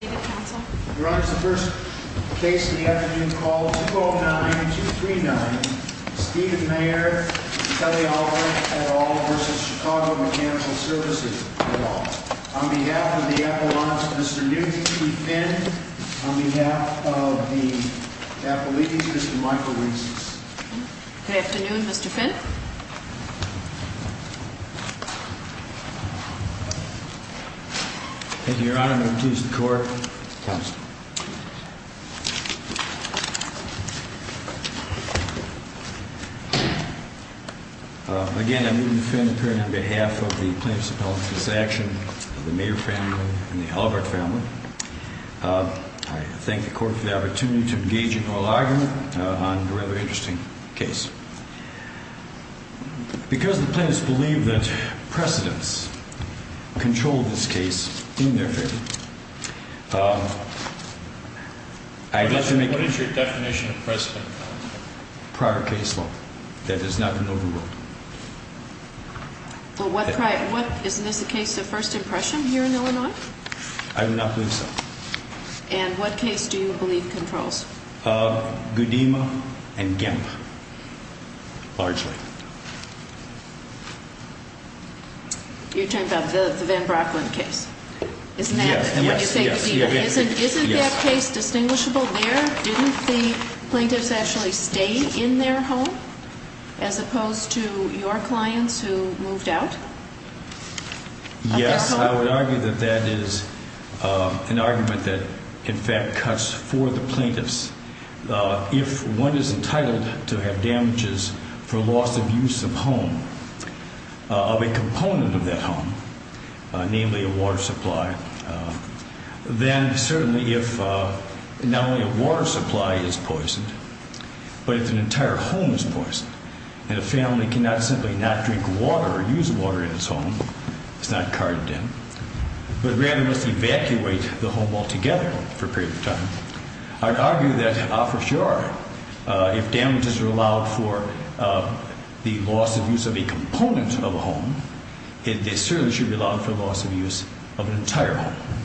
Your Honor, this is the first case in the afternoon called 209-239, Stephen Mayer v. Kelly-Albert, et al. v. Chicago Mechanical Services, et al. On behalf of the Appellants, Mr. Newton E. Finn. On behalf of the Appellees, Mr. Michael Reese. Good afternoon, Mr. Finn. Thank you, Your Honor. I'm going to introduce the Court. Again, I'm Newton E. Finn, appearing on behalf of the plaintiffs' appellants, this action of the Mayer family and the Albert family. I thank the Court for the opportunity to engage in oral argument on a rather interesting case. Because the plaintiffs believe that precedents control this case in their favor, I'd like to make... What is your definition of precedent, Your Honor? Prior case law. That does not promote a rule. Well, what prior... Isn't this a case of first impression here in Illinois? I do not believe so. And what case do you believe controls? Goodema and Gimp, largely. You're talking about the Van Brocklin case? Yes, yes, yes. Isn't that case distinguishable there? Didn't the plaintiffs actually stay in their home as opposed to your clients who moved out of their home? Yes, I would argue that that is an argument that, in fact, cuts for the plaintiffs. If one is entitled to have damages for loss of use of home, of a component of that home, namely a water supply, then certainly if not only a water supply is poisoned, but if an entire home is poisoned, and a family cannot simply not drink water or use water in its home, it's not carded in, but rather must evacuate the home altogether for a period of time, I'd argue that, ah, for sure, if damages are allowed for the loss of use of a component of a home, they certainly should be allowed for loss of use of an entire home.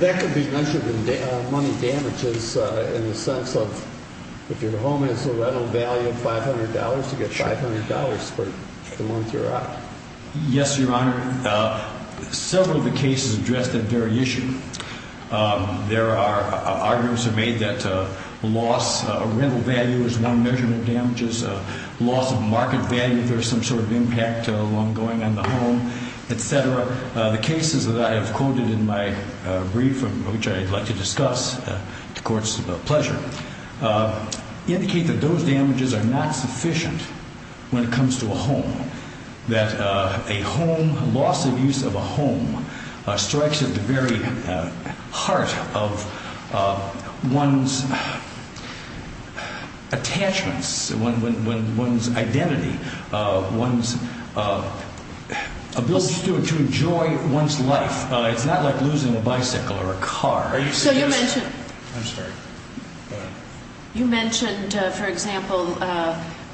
That could be measured in money damages in the sense of if your home has a rental value of $500, you get $500 for the month you're out. Yes, Your Honor. Several of the cases address that very issue. There are arguments made that loss of rental value is one measurement of damages. Loss of market value, if there's some sort of impact ongoing on the home, et cetera. The cases that I have quoted in my brief, which I'd like to discuss at the Court's pleasure, indicate that those damages are not sufficient when it comes to a home, that a home, loss of use of a home, strikes at the very heart of one's attachments, one's identity, one's ability to enjoy one's life. It's not like losing a bicycle or a car. So you mentioned, for example,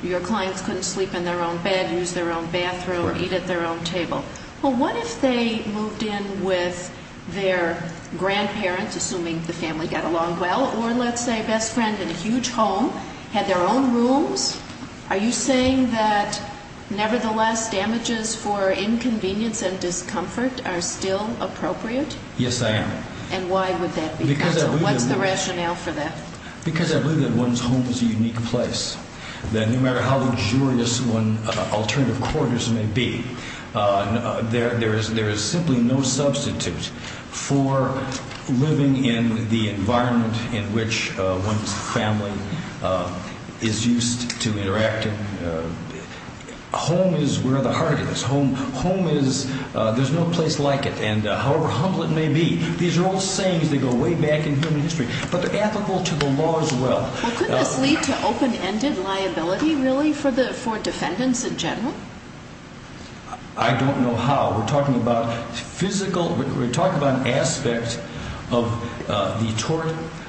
your clients couldn't sleep in their own bed, use their own bathroom, or eat at their own table. Well, what if they moved in with their grandparents, assuming the family got along well, or let's say a best friend in a huge home, had their own rooms? Are you saying that, nevertheless, damages for inconvenience and discomfort are still appropriate? Yes, I am. And why would that be? What's the rationale for that? Because I believe that one's home is a unique place, that no matter how luxurious one's alternative quarters may be, there is simply no substitute for living in the environment in which one's family is used to interacting. Home is where the heart is. Home is, there's no place like it, and however humble it may be. These are all sayings that go way back in human history, but they're ethical to the law as well. Well, could this lead to open-ended liability, really, for defendants in general? I don't know how. We're talking about an aspect of the tort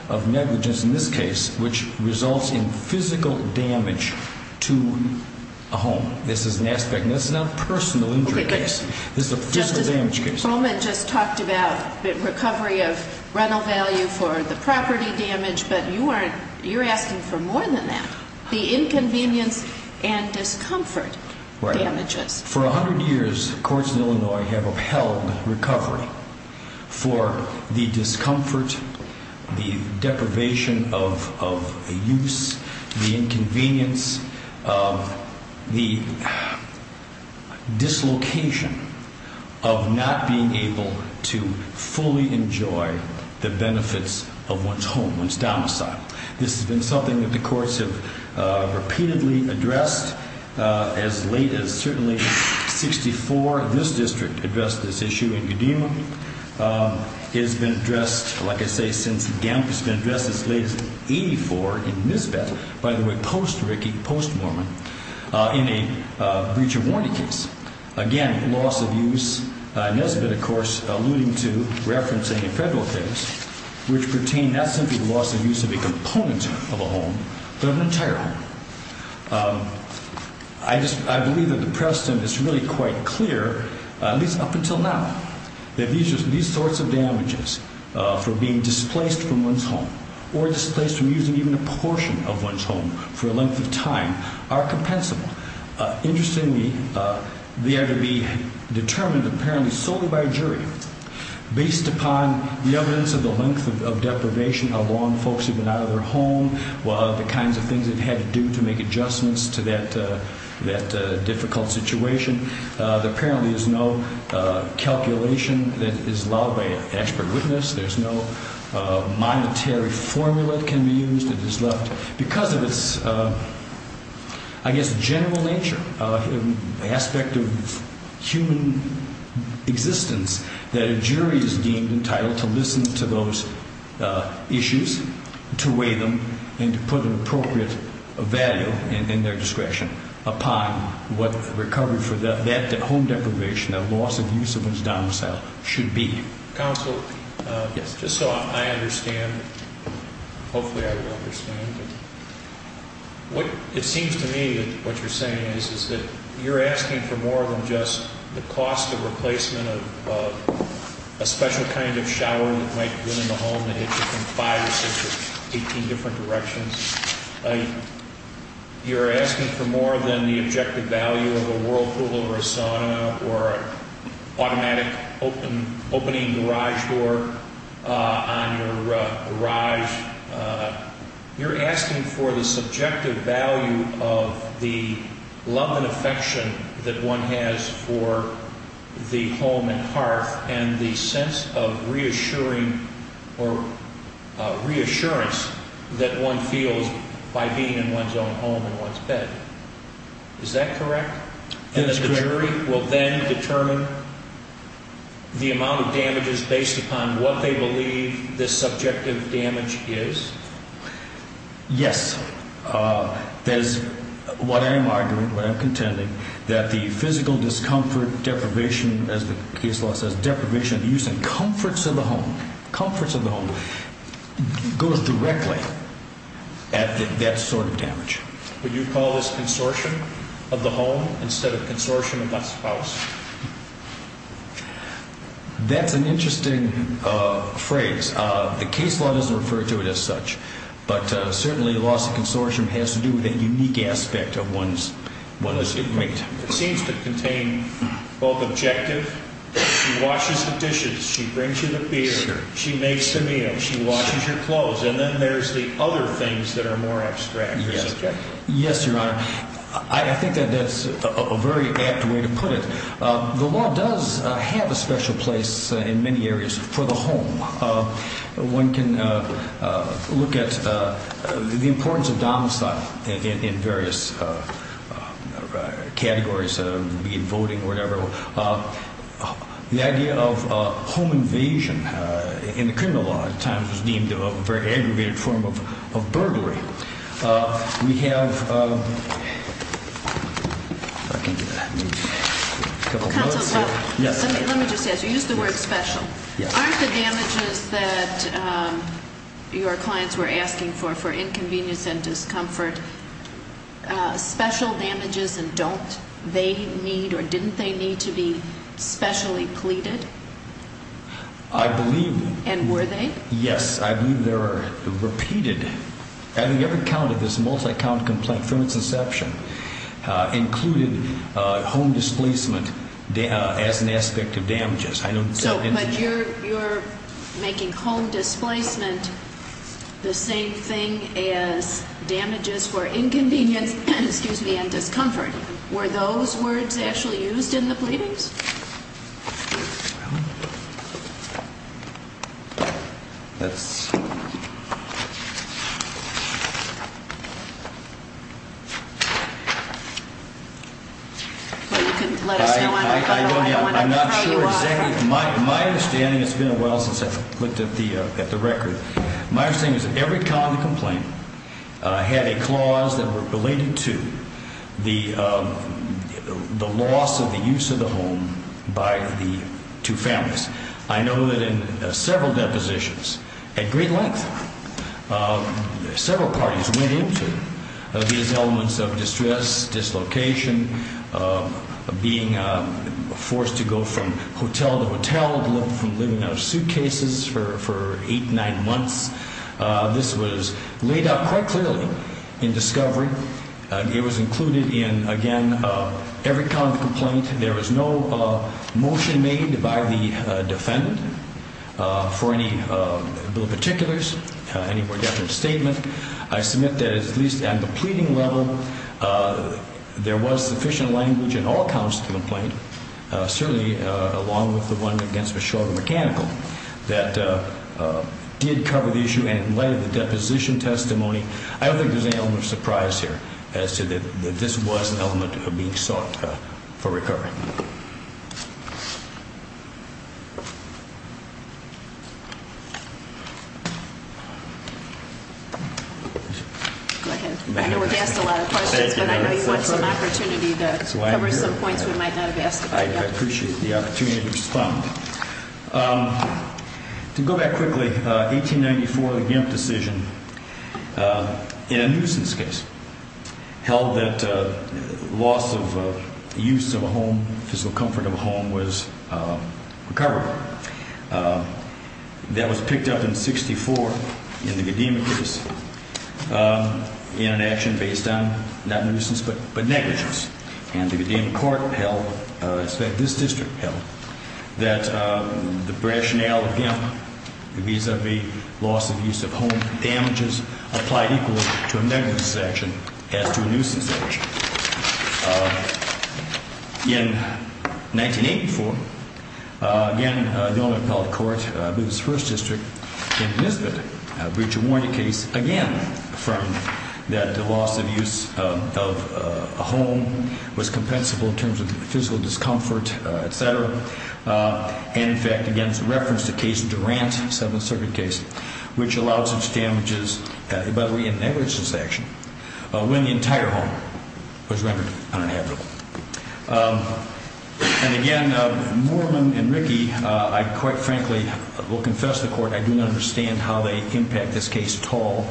of negligence in this case, which results in physical damage to a home. This is an aspect. This is not a personal injury case. This is a physical damage case. Mr. Coleman just talked about recovery of rental value for the property damage, but you're asking for more than that, the inconvenience and discomfort damages. Right. For 100 years, courts in Illinois have upheld recovery for the discomfort, the deprivation of use, the inconvenience, the dislocation of not being able to fully enjoy the benefits of one's home, one's domicile. This has been something that the courts have repeatedly addressed as late as, certainly, 64. This district addressed this issue in Godema. It has been addressed, like I say, since Gamp. It's been addressed as late as 84 in Nisbet, by the way, post-Rickey, post-Mormon, in a breach of warranty case. Again, loss of use. Nisbet, of course, alluding to referencing a federal case, which pertained not simply loss of use of a component of a home, but of an entire home. I believe that the precedent is really quite clear, at least up until now, that these sorts of damages for being displaced from one's home or displaced from using even a portion of one's home for a length of time are compensable. Interestingly, they are to be determined, apparently, solely by a jury, based upon the evidence of the length of deprivation, how long folks have been out of their home, the kinds of things they've had to do to make adjustments to that difficult situation. There apparently is no calculation that is allowed by an expert witness. There's no monetary formula that can be used. Because of its, I guess, general nature, aspect of human existence, that a jury is deemed entitled to listen to those issues, to weigh them, and to put an appropriate value in their discretion upon what recovery for that home deprivation, that loss of use of one's domicile, should be. Counsel, just so I understand, hopefully I will understand, it seems to me that what you're saying is that you're asking for more than just the cost of replacement of a special kind of shower that might be in the home that hits it from five or six or 18 different directions. You're asking for more than the objective value of a Whirlpool or a sauna or an automatic opening garage door on your garage. You're asking for the subjective value of the love and affection that one has for the home and hearth and the sense of reassuring or reassurance that one feels by being in one's own home and one's bed. Is that correct? That is correct. And the jury will then determine the amount of damages based upon what they believe this subjective damage is? Yes. That is what I am arguing, what I'm contending, that the physical discomfort deprivation, as the case law says deprivation of use and comforts of the home, comforts of the home, goes directly at that sort of damage. Would you call this consortium of the home instead of consortium of the spouse? That's an interesting phrase. The case law doesn't refer to it as such, but certainly loss of consortium has to do with a unique aspect of one's estate. It seems to contain both objective, she washes the dishes, she brings you the beer, she makes the meal, she washes your clothes, and then there's the other things that are more abstract. Yes, Your Honor. I think that that's a very apt way to put it. The law does have a special place in many areas for the home. One can look at the importance of domicile in various categories, be it voting or whatever. The idea of home invasion in the criminal law at times was deemed a very aggravated form of burglary. We have a couple of notes here. Counsel, let me just ask you, use the word special. Aren't the damages that your clients were asking for, for inconvenience and discomfort, special damages, and don't they need or didn't they need to be specially pleaded? I believe. And were they? Yes, I believe they were repeated. Every count of this multi-count complaint from its inception included home displacement as an aspect of damages. But you're making home displacement the same thing as damages for inconvenience and discomfort. Were those words actually used in the pleadings? Let's see. Let us know. I'm not sure exactly. My understanding, it's been a while since I looked at the record. My understanding is that every count of the complaint had a clause that related to the loss of the use of the home by the two families. I know that in several depositions at great length, several parties went into these elements of distress, dislocation, being forced to go from hotel to hotel, from living out of suitcases for eight, nine months. This was laid out quite clearly in discovery. It was included in, again, every count of the complaint. There was no motion made by the defendant for any bill of particulars, any more definite statement. I submit that at least at the pleading level, there was sufficient language in all counts of the complaint, certainly along with the one against Meshuggah Mechanical, that did cover the issue. And in light of the deposition testimony, I don't think there's any element of surprise here as to that this was an element of being sought for recovery. Go ahead. I know we've asked a lot of questions, but I know you want some opportunity to cover some points we might not have asked about. I appreciate the opportunity to respond. To go back quickly, 1894, the Gimp decision in a nuisance case held that loss of use of a home, physical comfort of a home, was recoverable. That was picked up in 64 in the Godema case in an action based on not nuisance but negligence. And the Godema court held, in fact, this district held, that the rationale of Gimp vis-à-vis loss of use of home damages applied equally to a negligence action as to a nuisance action. In 1984, again, the only appellate court in this first district, Gimp Nisbet, breached a warranted case, again, affirming that the loss of use of a home was compensable in terms of physical discomfort, et cetera. And, in fact, again, it's a reference to a case, Durant, Seventh Circuit case, which allowed such damages, by way of negligence action, when the entire home was rendered uninhabitable. And, again, Mormon and Rickey, I quite frankly will confess to the court I do not understand how they impact this case at all.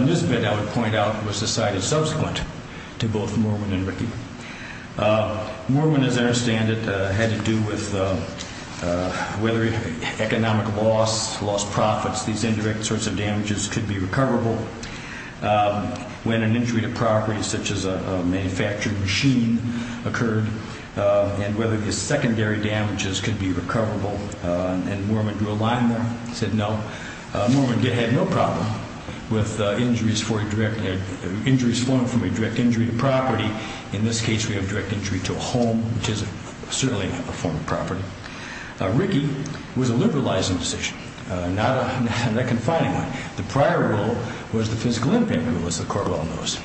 Nisbet, I would point out, was decided subsequent to both Mormon and Rickey. Mormon, as I understand it, had to do with whether economic loss, lost profits, these indirect sorts of damages could be recoverable. When an injury to property, such as a manufactured machine, occurred, and whether the secondary damages could be recoverable, and Mormon drew a line there, said no. Mormon had no problem with injuries flown from a direct injury to property. In this case, we have a direct injury to a home, which is certainly a form of property. Rickey was a liberalizing decision, not a confining one. The prior rule was the physical impact rule, as the court well knows.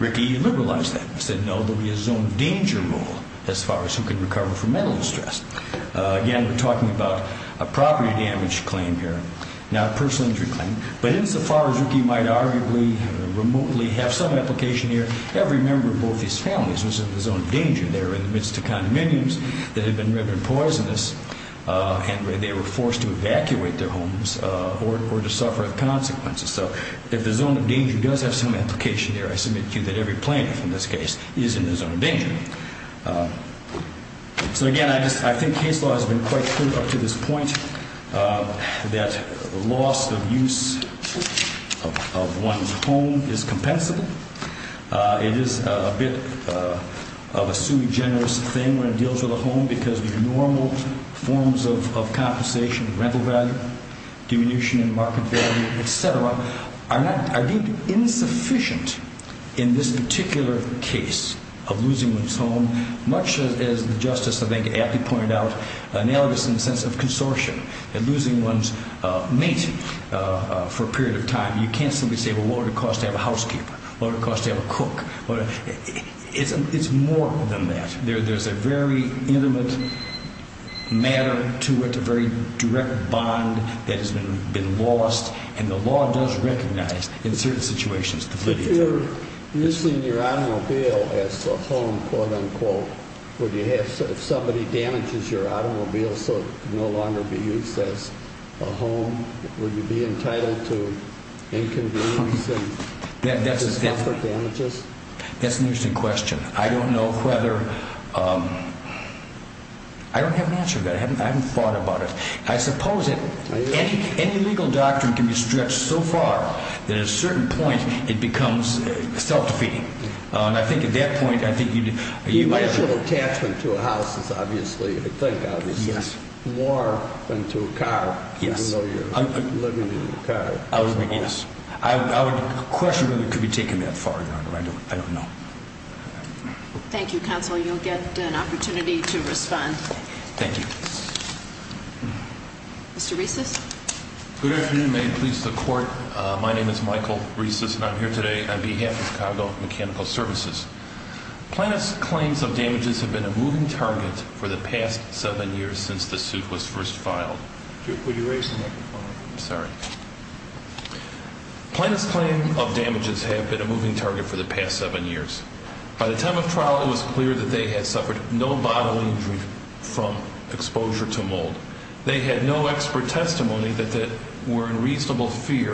Rickey liberalized that and said, no, there will be a zone of danger rule as far as who can recover from mental distress. Again, we're talking about a property damage claim here, not a personal injury claim. But insofar as Rickey might arguably remotely have some application here, every member of both these families was in the zone of danger. They were in the midst of condominiums that had been riven poisonous, and they were forced to evacuate their homes or to suffer the consequences. So if the zone of danger does have some application there, I submit to you that every plaintiff in this case is in the zone of danger. So, again, I think case law has been quite clear up to this point that loss of use of one's home is compensable. It is a bit of a sui generis thing when it deals with a home because your normal forms of compensation, rental value, diminution in market value, et cetera, are deemed insufficient in this particular case of losing one's home, much as the Justice, I think, aptly pointed out, analogous in the sense of consortium and losing one's mate for a period of time. You can't simply say, well, what would it cost to have a housekeeper? What would it cost to have a cook? It's more than that. There's a very intimate matter to it, a very direct bond that has been lost, and the law does recognize in certain situations the validity of that. If you're using your automobile as a home, quote, unquote, would you have, if somebody damages your automobile so it can no longer be used as a home, would you be entitled to inconvenience and discomfort damages? That's an interesting question. I don't know whether, I don't have an answer to that. I haven't thought about it. I suppose that any legal doctrine can be stretched so far that at a certain point it becomes self-defeating. And I think at that point, I think you'd have to... The initial attachment to a house is obviously, I think, obviously, more than to a car. Yes. Even though you're living in a car. Yes. I would question whether it could be taken that far, Your Honor. I don't know. Thank you, Counsel. You'll get an opportunity to respond. Thank you. Mr. Reces. Good afternoon. May it please the Court. My name is Michael Reces, and I'm here today on behalf of Chicago Mechanical Services. Plaintiff's claims of damages have been a moving target for the past seven years since the suit was first filed. Would you raise the microphone? I'm sorry. Plaintiff's claims of damages have been a moving target for the past seven years. By the time of trial, it was clear that they had suffered no bodily injury from exposure to mold. They had no expert testimony that they were in reasonable fear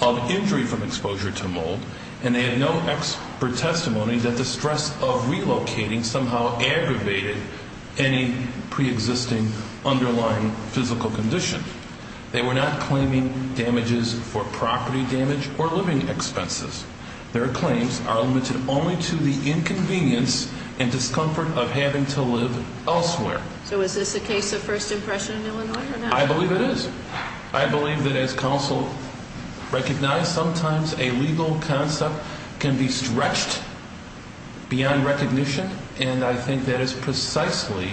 of injury from exposure to mold, and they had no expert testimony that the stress of relocating somehow aggravated any preexisting underlying physical condition. They were not claiming damages for property damage or living expenses. Their claims are limited only to the inconvenience and discomfort of having to live elsewhere. So is this a case of first impression in Illinois or not? I believe it is. I believe that as counsel recognized, sometimes a legal concept can be stretched beyond recognition, and I think that is precisely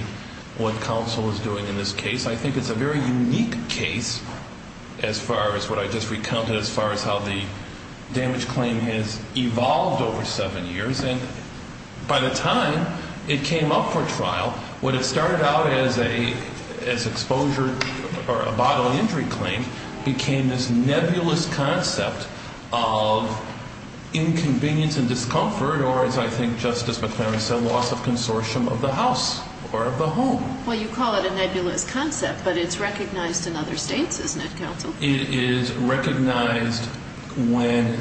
what counsel is doing in this case. I think it's a very unique case as far as what I just recounted as far as how the damage claim has evolved over seven years, and by the time it came up for trial, what had started out as exposure or a bodily injury claim became this nebulous concept of inconvenience and discomfort or, as I think Justice McClary said, loss of consortium of the house or of the home. Well, you call it a nebulous concept, but it's recognized in other states, isn't it, counsel? It is recognized when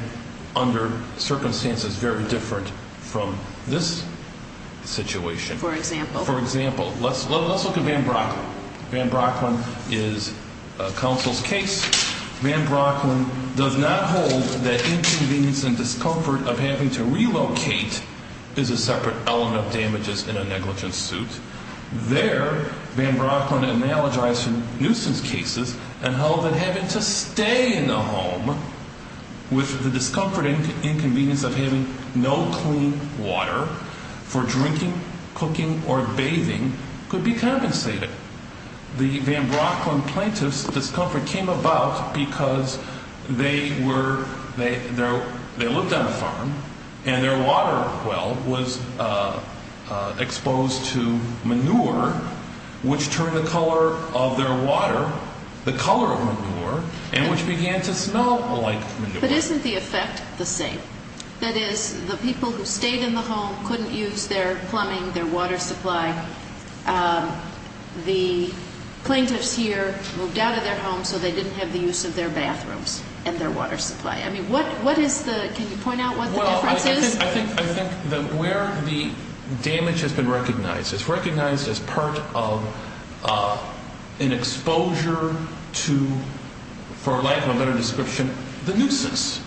under circumstances very different from this situation. For example? For example, let's look at Van Brocklin. Van Brocklin is counsel's case. Van Brocklin does not hold that inconvenience and discomfort of having to relocate is a separate element of damages in a negligence suit. There, Van Brocklin analogized from nuisance cases and held that having to stay in the home with the discomfort and inconvenience of having no clean water for drinking, cooking, or bathing could be compensated. The Van Brocklin plaintiff's discomfort came about because they looked on a farm and their water well was exposed to manure, which turned the color of their water, the color of manure, and which began to smell like manure. But isn't the effect the same? That is, the people who stayed in the home couldn't use their plumbing, their water supply. The plaintiffs here moved out of their home so they didn't have the use of their bathrooms and their water supply. I mean, what is the ñ can you point out what the difference is? Well, I think that where the damage has been recognized, it's recognized as part of an exposure to, for lack of a better description, the nuisance.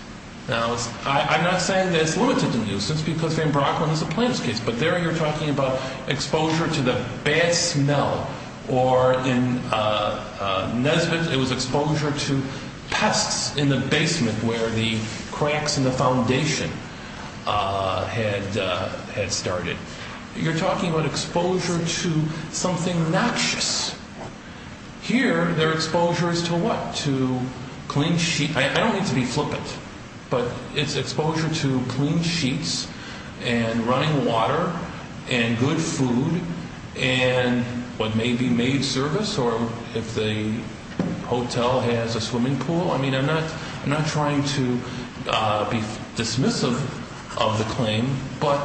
Now, I'm not saying that it's limited to nuisance because Van Brocklin is a plaintiff's case, but there you're talking about exposure to the bad smell, or in Nesbitt it was exposure to pests in the basement where the cracks in the foundation had started. You're talking about exposure to something noxious. Here, their exposure is to what? To clean sheets. I don't mean to be flippant, but it's exposure to clean sheets and running water and good food and what may be maid service or if the hotel has a swimming pool. I mean, I'm not trying to be dismissive of the claim, but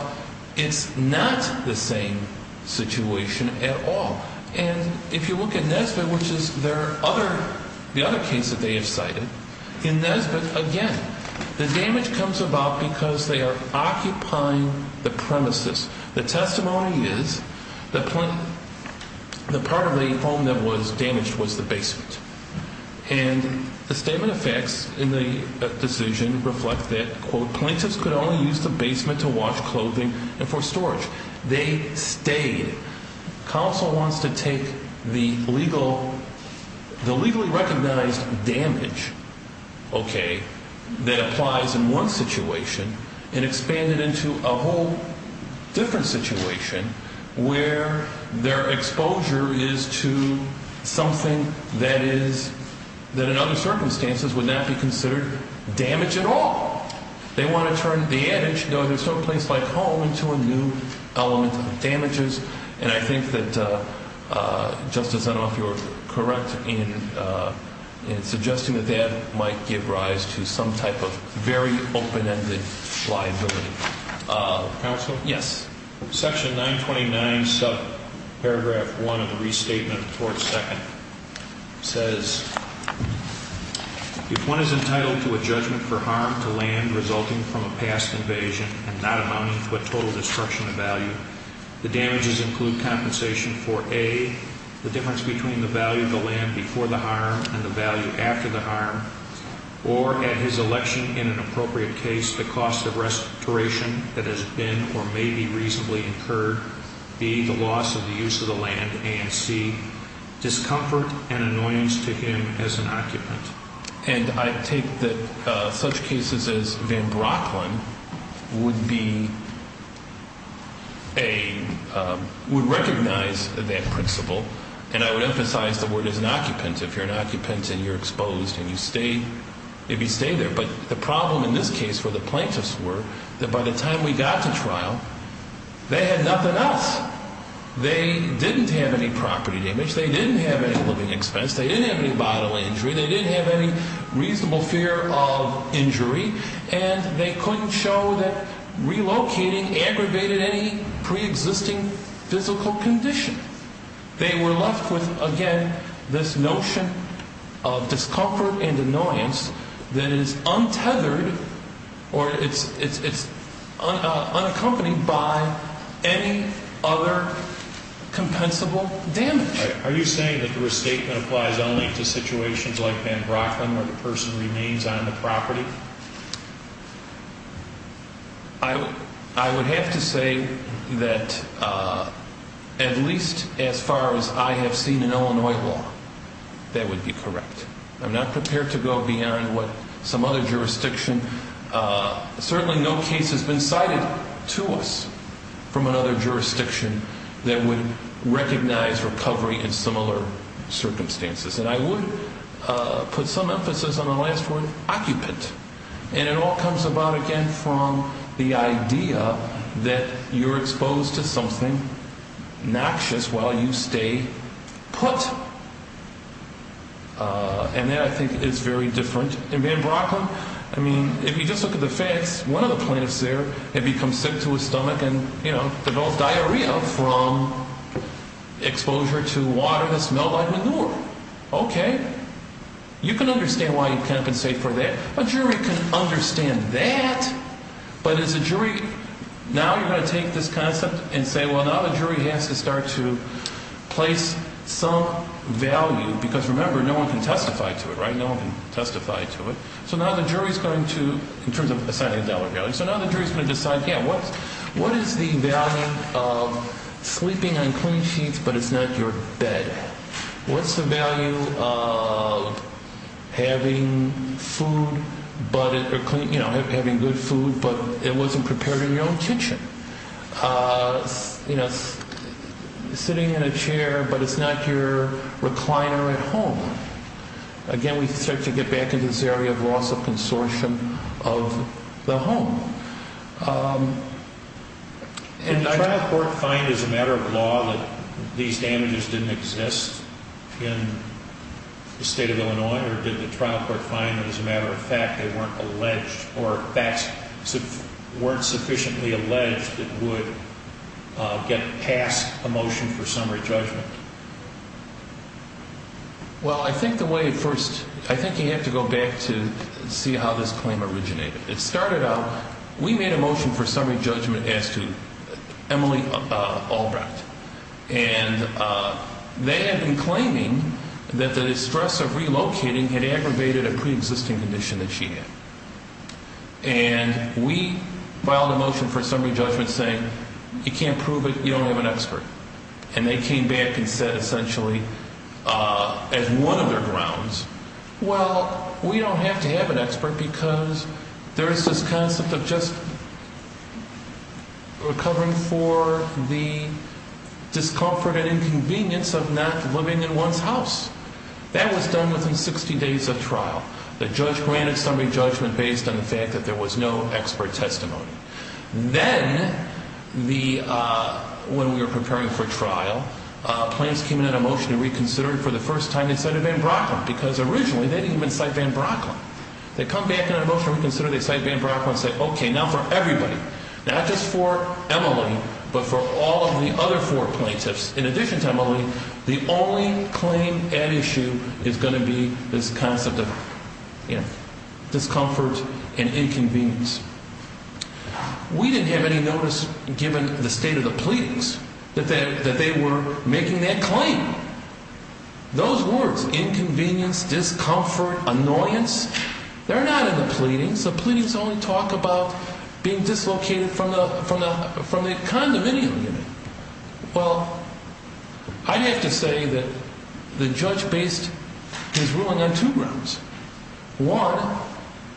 it's not the same situation at all. And if you look at Nesbitt, which is the other case that they have cited, in Nesbitt, again, the damage comes about because they are occupying the premises. The testimony is that part of the home that was damaged was the basement. And the statement of facts in the decision reflect that, quote, plaintiffs could only use the basement to wash clothing and for storage. They stayed. Counsel wants to take the legal, the legally recognized damage, okay, that applies in one situation and expand it into a whole different situation where their exposure is to something that is, that in other circumstances would not be considered damage at all. They want to turn the adage, you know, there's no place like home, into a new element of damages. And I think that, Justice, I don't know if you're correct in suggesting that that might give rise to some type of very open-ended liability. Counsel? Yes. Section 929 subparagraph 1 of the restatement of the court's second says, if one is entitled to a judgment for harm to land resulting from a past invasion and not amounting to a total destruction of value, the damages include compensation for, A, the difference between the value of the land before the harm and the value after the harm, or, at his election in an appropriate case, the cost of restoration that has been or may be required. And, B, the loss of the use of the land, and, C, discomfort and annoyance to him as an occupant. And I take that such cases as Van Brocklin would be a, would recognize that principle. And I would emphasize the word is an occupant. If you're an occupant and you're exposed and you stay, if you stay there. But the problem in this case where the plaintiffs were, that by the time we got to trial, they had nothing else. They didn't have any property damage. They didn't have any living expense. They didn't have any bodily injury. They didn't have any reasonable fear of injury. And they couldn't show that relocating aggravated any preexisting physical condition. They were left with, again, this notion of discomfort and annoyance that is untethered or it's unaccompanied by any other compensable damage. Are you saying that the restatement applies only to situations like Van Brocklin where the person remains on the property? I would have to say that at least as far as I have seen in Illinois law, that would be correct. I'm not prepared to go beyond what some other jurisdiction, certainly no case has been cited to us from another jurisdiction that would recognize recovery in similar circumstances. And I would put some emphasis on the last word, occupant. And it all comes about, again, from the idea that you're exposed to something noxious while you stay put. And that, I think, is very different. In Van Brocklin, I mean, if you just look at the facts, one of the plaintiffs there had become sick to his stomach and, you know, diarrhea from exposure to water that smelled like manure. Okay. You can understand why you compensate for that. A jury can understand that. But as a jury, now you're going to take this concept and say, well, now the jury has to start to place some value. Because, remember, no one can testify to it, right? No one can testify to it. So now the jury is going to, in terms of assigning a dollar value, so now the jury is going to decide, yeah, what is the value of sleeping on clean sheets but it's not your bed? What's the value of having food, you know, having good food but it wasn't prepared in your own kitchen? You know, sitting in a chair but it's not your recliner at home? Again, we start to get back into this area of loss of consortium of the home. Did the trial court find as a matter of law that these damages didn't exist in the State of Illinois or did the trial court find that as a matter of fact they weren't alleged or facts weren't sufficiently alleged that would get past a motion for summary judgment? Well, I think the way at first, I think you have to go back to see how this claim originated. It started out, we made a motion for summary judgment as to Emily Albright. And they had been claiming that the distress of relocating had aggravated a preexisting condition that she had. And we filed a motion for summary judgment saying, you can't prove it, you don't have an expert. And they came back and said essentially, as one of their grounds, well, we don't have to have an expert because there is this concept of just recovering for the discomfort and inconvenience of not living in one's house. That was done within 60 days of trial. The judge granted summary judgment based on the fact that there was no expert testimony. Then when we were preparing for trial, plaintiffs came in on a motion to reconsider it for the first time inside of Van Brocklin because originally they didn't even cite Van Brocklin. They come back in a motion to reconsider, they cite Van Brocklin and say, okay, now for everybody, not just for Emily but for all of the other four plaintiffs in addition to Emily, the only claim at issue is going to be this concept of discomfort and inconvenience. We didn't have any notice given the state of the pleadings that they were making that claim. Those words, inconvenience, discomfort, annoyance, they're not in the pleadings. The pleadings only talk about being dislocated from the condominium unit. Well, I'd have to say that the judge based his ruling on two grounds. One,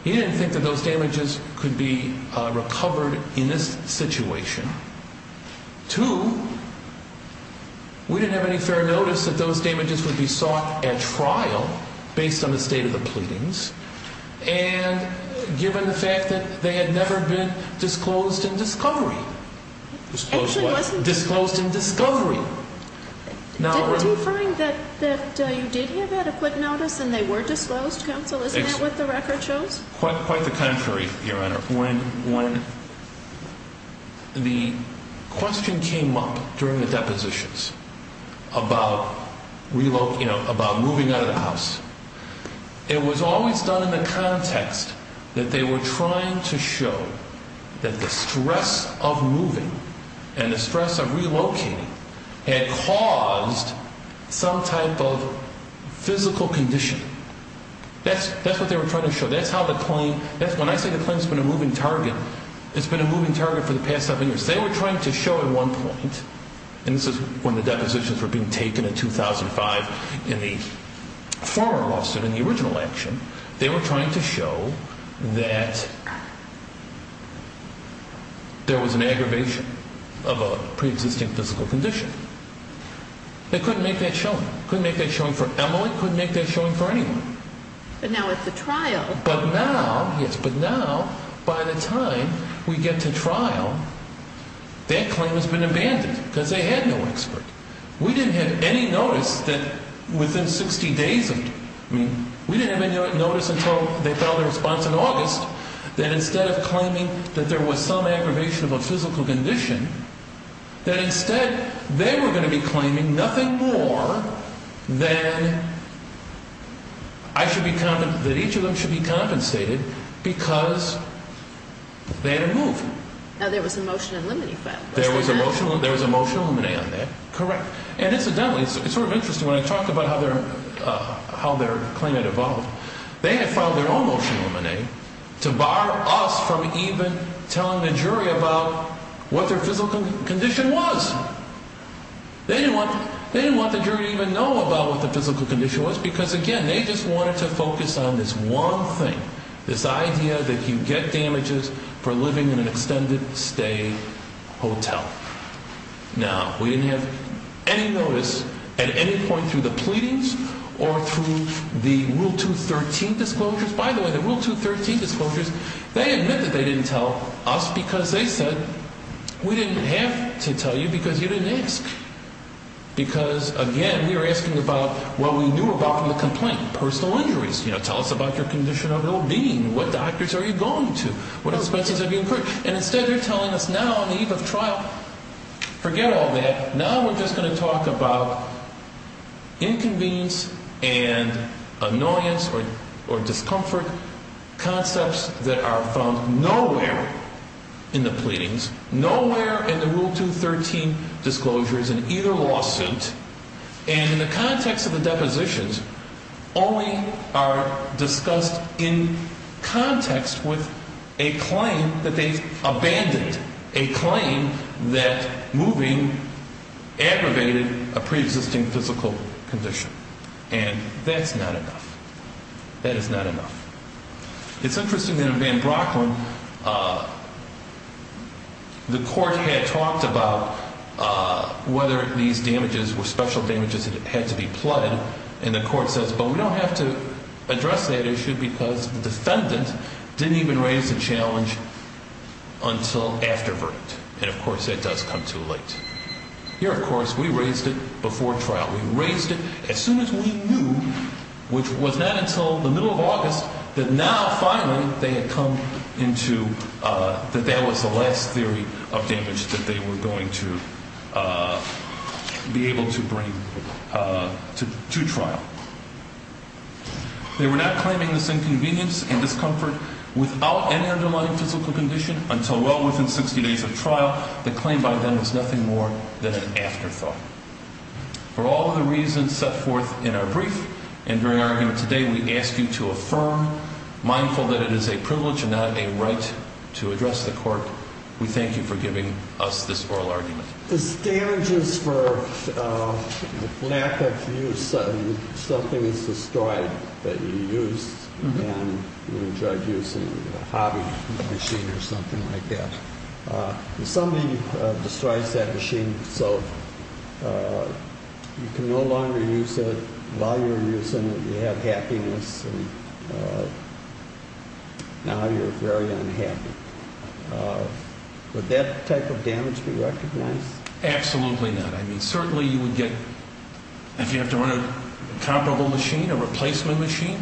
he didn't think that those damages could be recovered in this situation. Two, we didn't have any fair notice that those damages would be sought at trial based on the state of the pleadings and given the fact that they had never been disclosed in discovery. Disclosed what? Disclosed in discovery. Did he find that you did have adequate notice and they were disclosed, counsel? Isn't that what the record shows? Quite the contrary, Your Honor. When the question came up during the depositions about relocating, about moving out of the house, it was always done in the context that they were trying to show that the stress of moving and the stress of relocating had caused some type of physical condition. That's what they were trying to show. That's how the claim, when I say the claim's been a moving target, it's been a moving target for the past seven years. They were trying to show at one point, and this is when the depositions were being taken in 2005 in the former lawsuit and the original action, they were trying to show that there was an aggravation of a preexisting physical condition. They couldn't make that showing. Couldn't make that showing for Emily, couldn't make that showing for anyone. But now it's a trial. But now, yes, but now by the time we get to trial, that claim has been abandoned because they had no expert. We didn't have any notice that within 60 days of it, I mean, we didn't have any notice until they filed a response in August that instead of claiming that there was some aggravation of a physical condition, that instead they were going to be claiming nothing more than I should be compensated, that each of them should be compensated because they had a move. Now, there was a motion and limine effect. There was a motion and limine on that. Correct. And incidentally, it's sort of interesting, when I talked about how their claim had evolved, they had filed their own motion and limine to bar us from even telling the jury about what their physical condition was. They didn't want the jury to even know about what the physical condition was because, again, they just wanted to focus on this one thing, this idea that you get damages for living in an extended stay hotel. Now, we didn't have any notice at any point through the pleadings or through the Rule 213 disclosures. By the way, the Rule 213 disclosures, they admit that they didn't tell us because they said we didn't have to tell you because you didn't ask. Because, again, we were asking about what we knew about from the complaint, personal injuries. Tell us about your condition of well-being. What doctors are you going to? What expenses have you incurred? And instead they're telling us now on the eve of trial, forget all that. Now we're just going to talk about inconvenience and annoyance or discomfort, concepts that are found nowhere in the pleadings, nowhere in the Rule 213 disclosures in either lawsuit, and in the context of the depositions only are discussed in context with a claim that they abandoned, a claim that moving aggravated a preexisting physical condition. And that's not enough. That is not enough. It's interesting that in Van Brocklin, the court had talked about whether these damages were special damages that had to be pled, and the court says, but we don't have to address that issue because the defendant didn't even raise the challenge until after verdict. And, of course, that does come too late. Here, of course, we raised it before trial. We raised it as soon as we knew, which was not until the middle of August, that now finally they had come into that that was the last theory of damage that they were going to be able to bring to trial. They were not claiming this inconvenience and discomfort without any underlying physical condition until well within 60 days of trial. The claim by then was nothing more than an afterthought. For all the reasons set forth in our brief and during our argument today, we ask you to affirm, mindful that it is a privilege and not a right to address the court. We thank you for giving us this oral argument. The damages for lack of use, something is destroyed that you used and you enjoyed using, a hobby machine or something like that. Somebody destroys that machine so you can no longer use it while you're using it. You have happiness and now you're very unhappy. Would that type of damage be recognized? Absolutely not. I mean, certainly you would get, if you have to run a comparable machine, a replacement machine,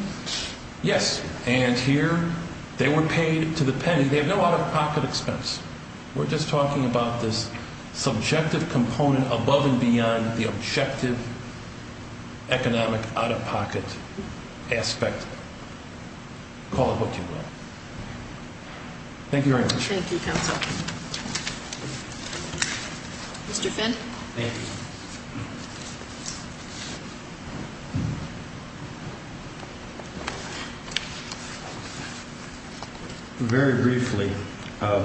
yes. And here they were paid to the penny. They have no out-of-pocket expense. We're just talking about this subjective component above and beyond the objective economic out-of-pocket aspect. Call it what you will. Thank you very much. Thank you, counsel. Mr. Finn. Thank you. Very briefly, I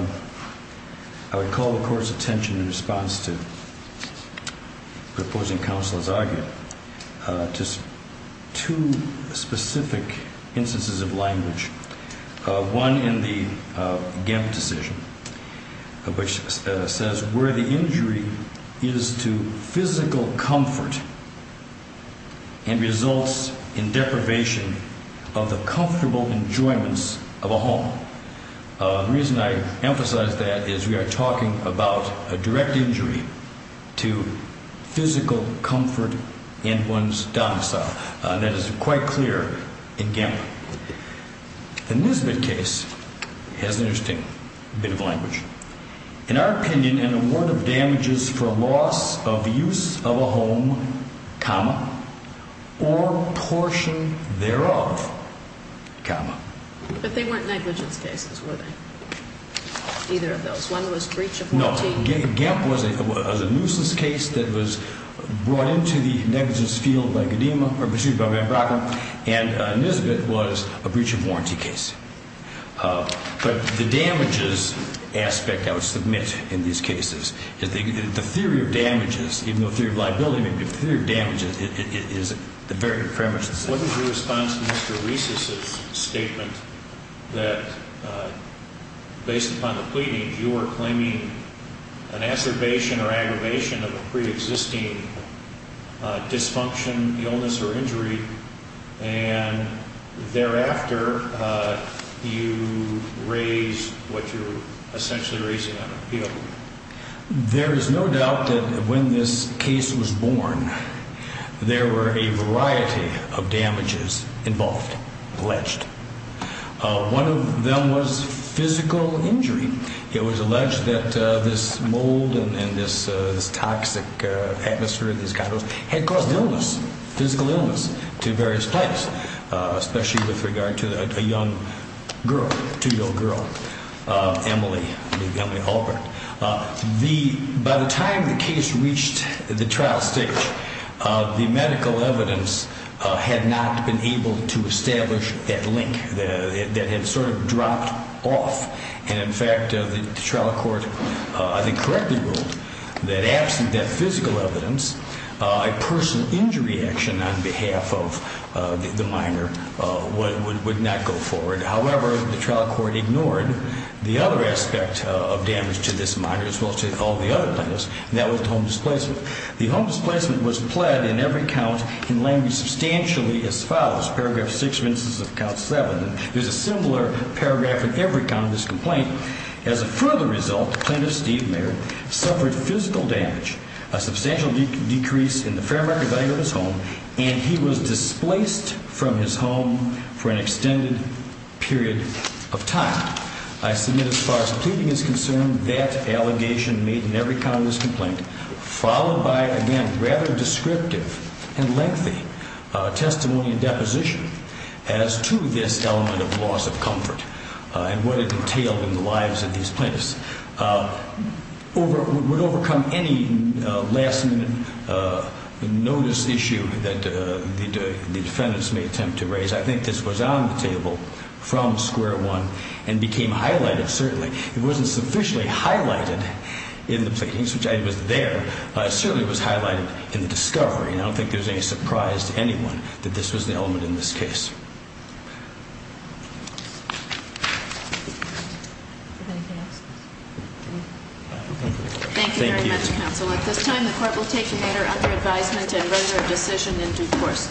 would call the court's attention in response to the opposing counsel's argument to two specific instances of language. One in the GEMP decision, which says where the injury is to physical comfort and results in deprivation of the comfortable enjoyments of a home. The reason I emphasize that is we are talking about a direct injury to physical comfort in one's domicile. That is quite clear in GEMP. The Nisbet case has an interesting bit of language. In our opinion, an award of damages for loss of use of a home, comma, or portion thereof, comma. But they weren't negligence cases, were they? Either of those. One was breach of warranty. GEMP was a nuisance case that was brought into the negligence field by GEDEMA or pursued by Van Bracken. And Nisbet was a breach of warranty case. But the damages aspect I would submit in these cases is the theory of damages, even though the theory of liability may be the theory of damages, is the very premise. What is your response to Mr. Reese's statement that, based upon the pleadings, you are claiming an assertion or aggravation of a preexisting dysfunction, illness, or injury? And thereafter, you raise what you're essentially raising on appeal. There is no doubt that when this case was born, there were a variety of damages involved, alleged. One of them was physical injury. It was alleged that this mold and this toxic atmosphere, this kind of, had caused illness, physical illness, to various places, especially with regard to a young girl, a two-year-old girl, Emily, Emily Alpert. By the time the case reached the trial stage, the medical evidence had not been able to establish that link that had sort of dropped off. And, in fact, the trial court, I think, correctly ruled that absent that physical evidence, a personal injury action on behalf of the minor would not go forward. However, the trial court ignored the other aspect of damage to this minor, as well as to all the other plaintiffs, and that was home displacement. The home displacement was pled in every count in language substantially as follows, paragraph 6 of instance of count 7. There's a similar paragraph in every count of this complaint. As a further result, Plaintiff Steve Mayer suffered physical damage, a substantial decrease in the fair market value of his home, and he was displaced from his home for an extended period of time. I submit, as far as the pleading is concerned, that allegation made in every count of this complaint, followed by, again, rather descriptive and lengthy testimony and deposition as to this element of loss of comfort and what it entailed in the lives of these plaintiffs, would overcome any last-minute notice issue that the defendants may attempt to raise. I think this was on the table from square one and became highlighted, certainly. It wasn't sufficiently highlighted in the pleadings, which I think was there, but it certainly was highlighted in the discovery, and I don't think there's any surprise to anyone that this was the element in this case. Thank you very much, counsel. At this time, the court will take another under advisement and render a decision in due course.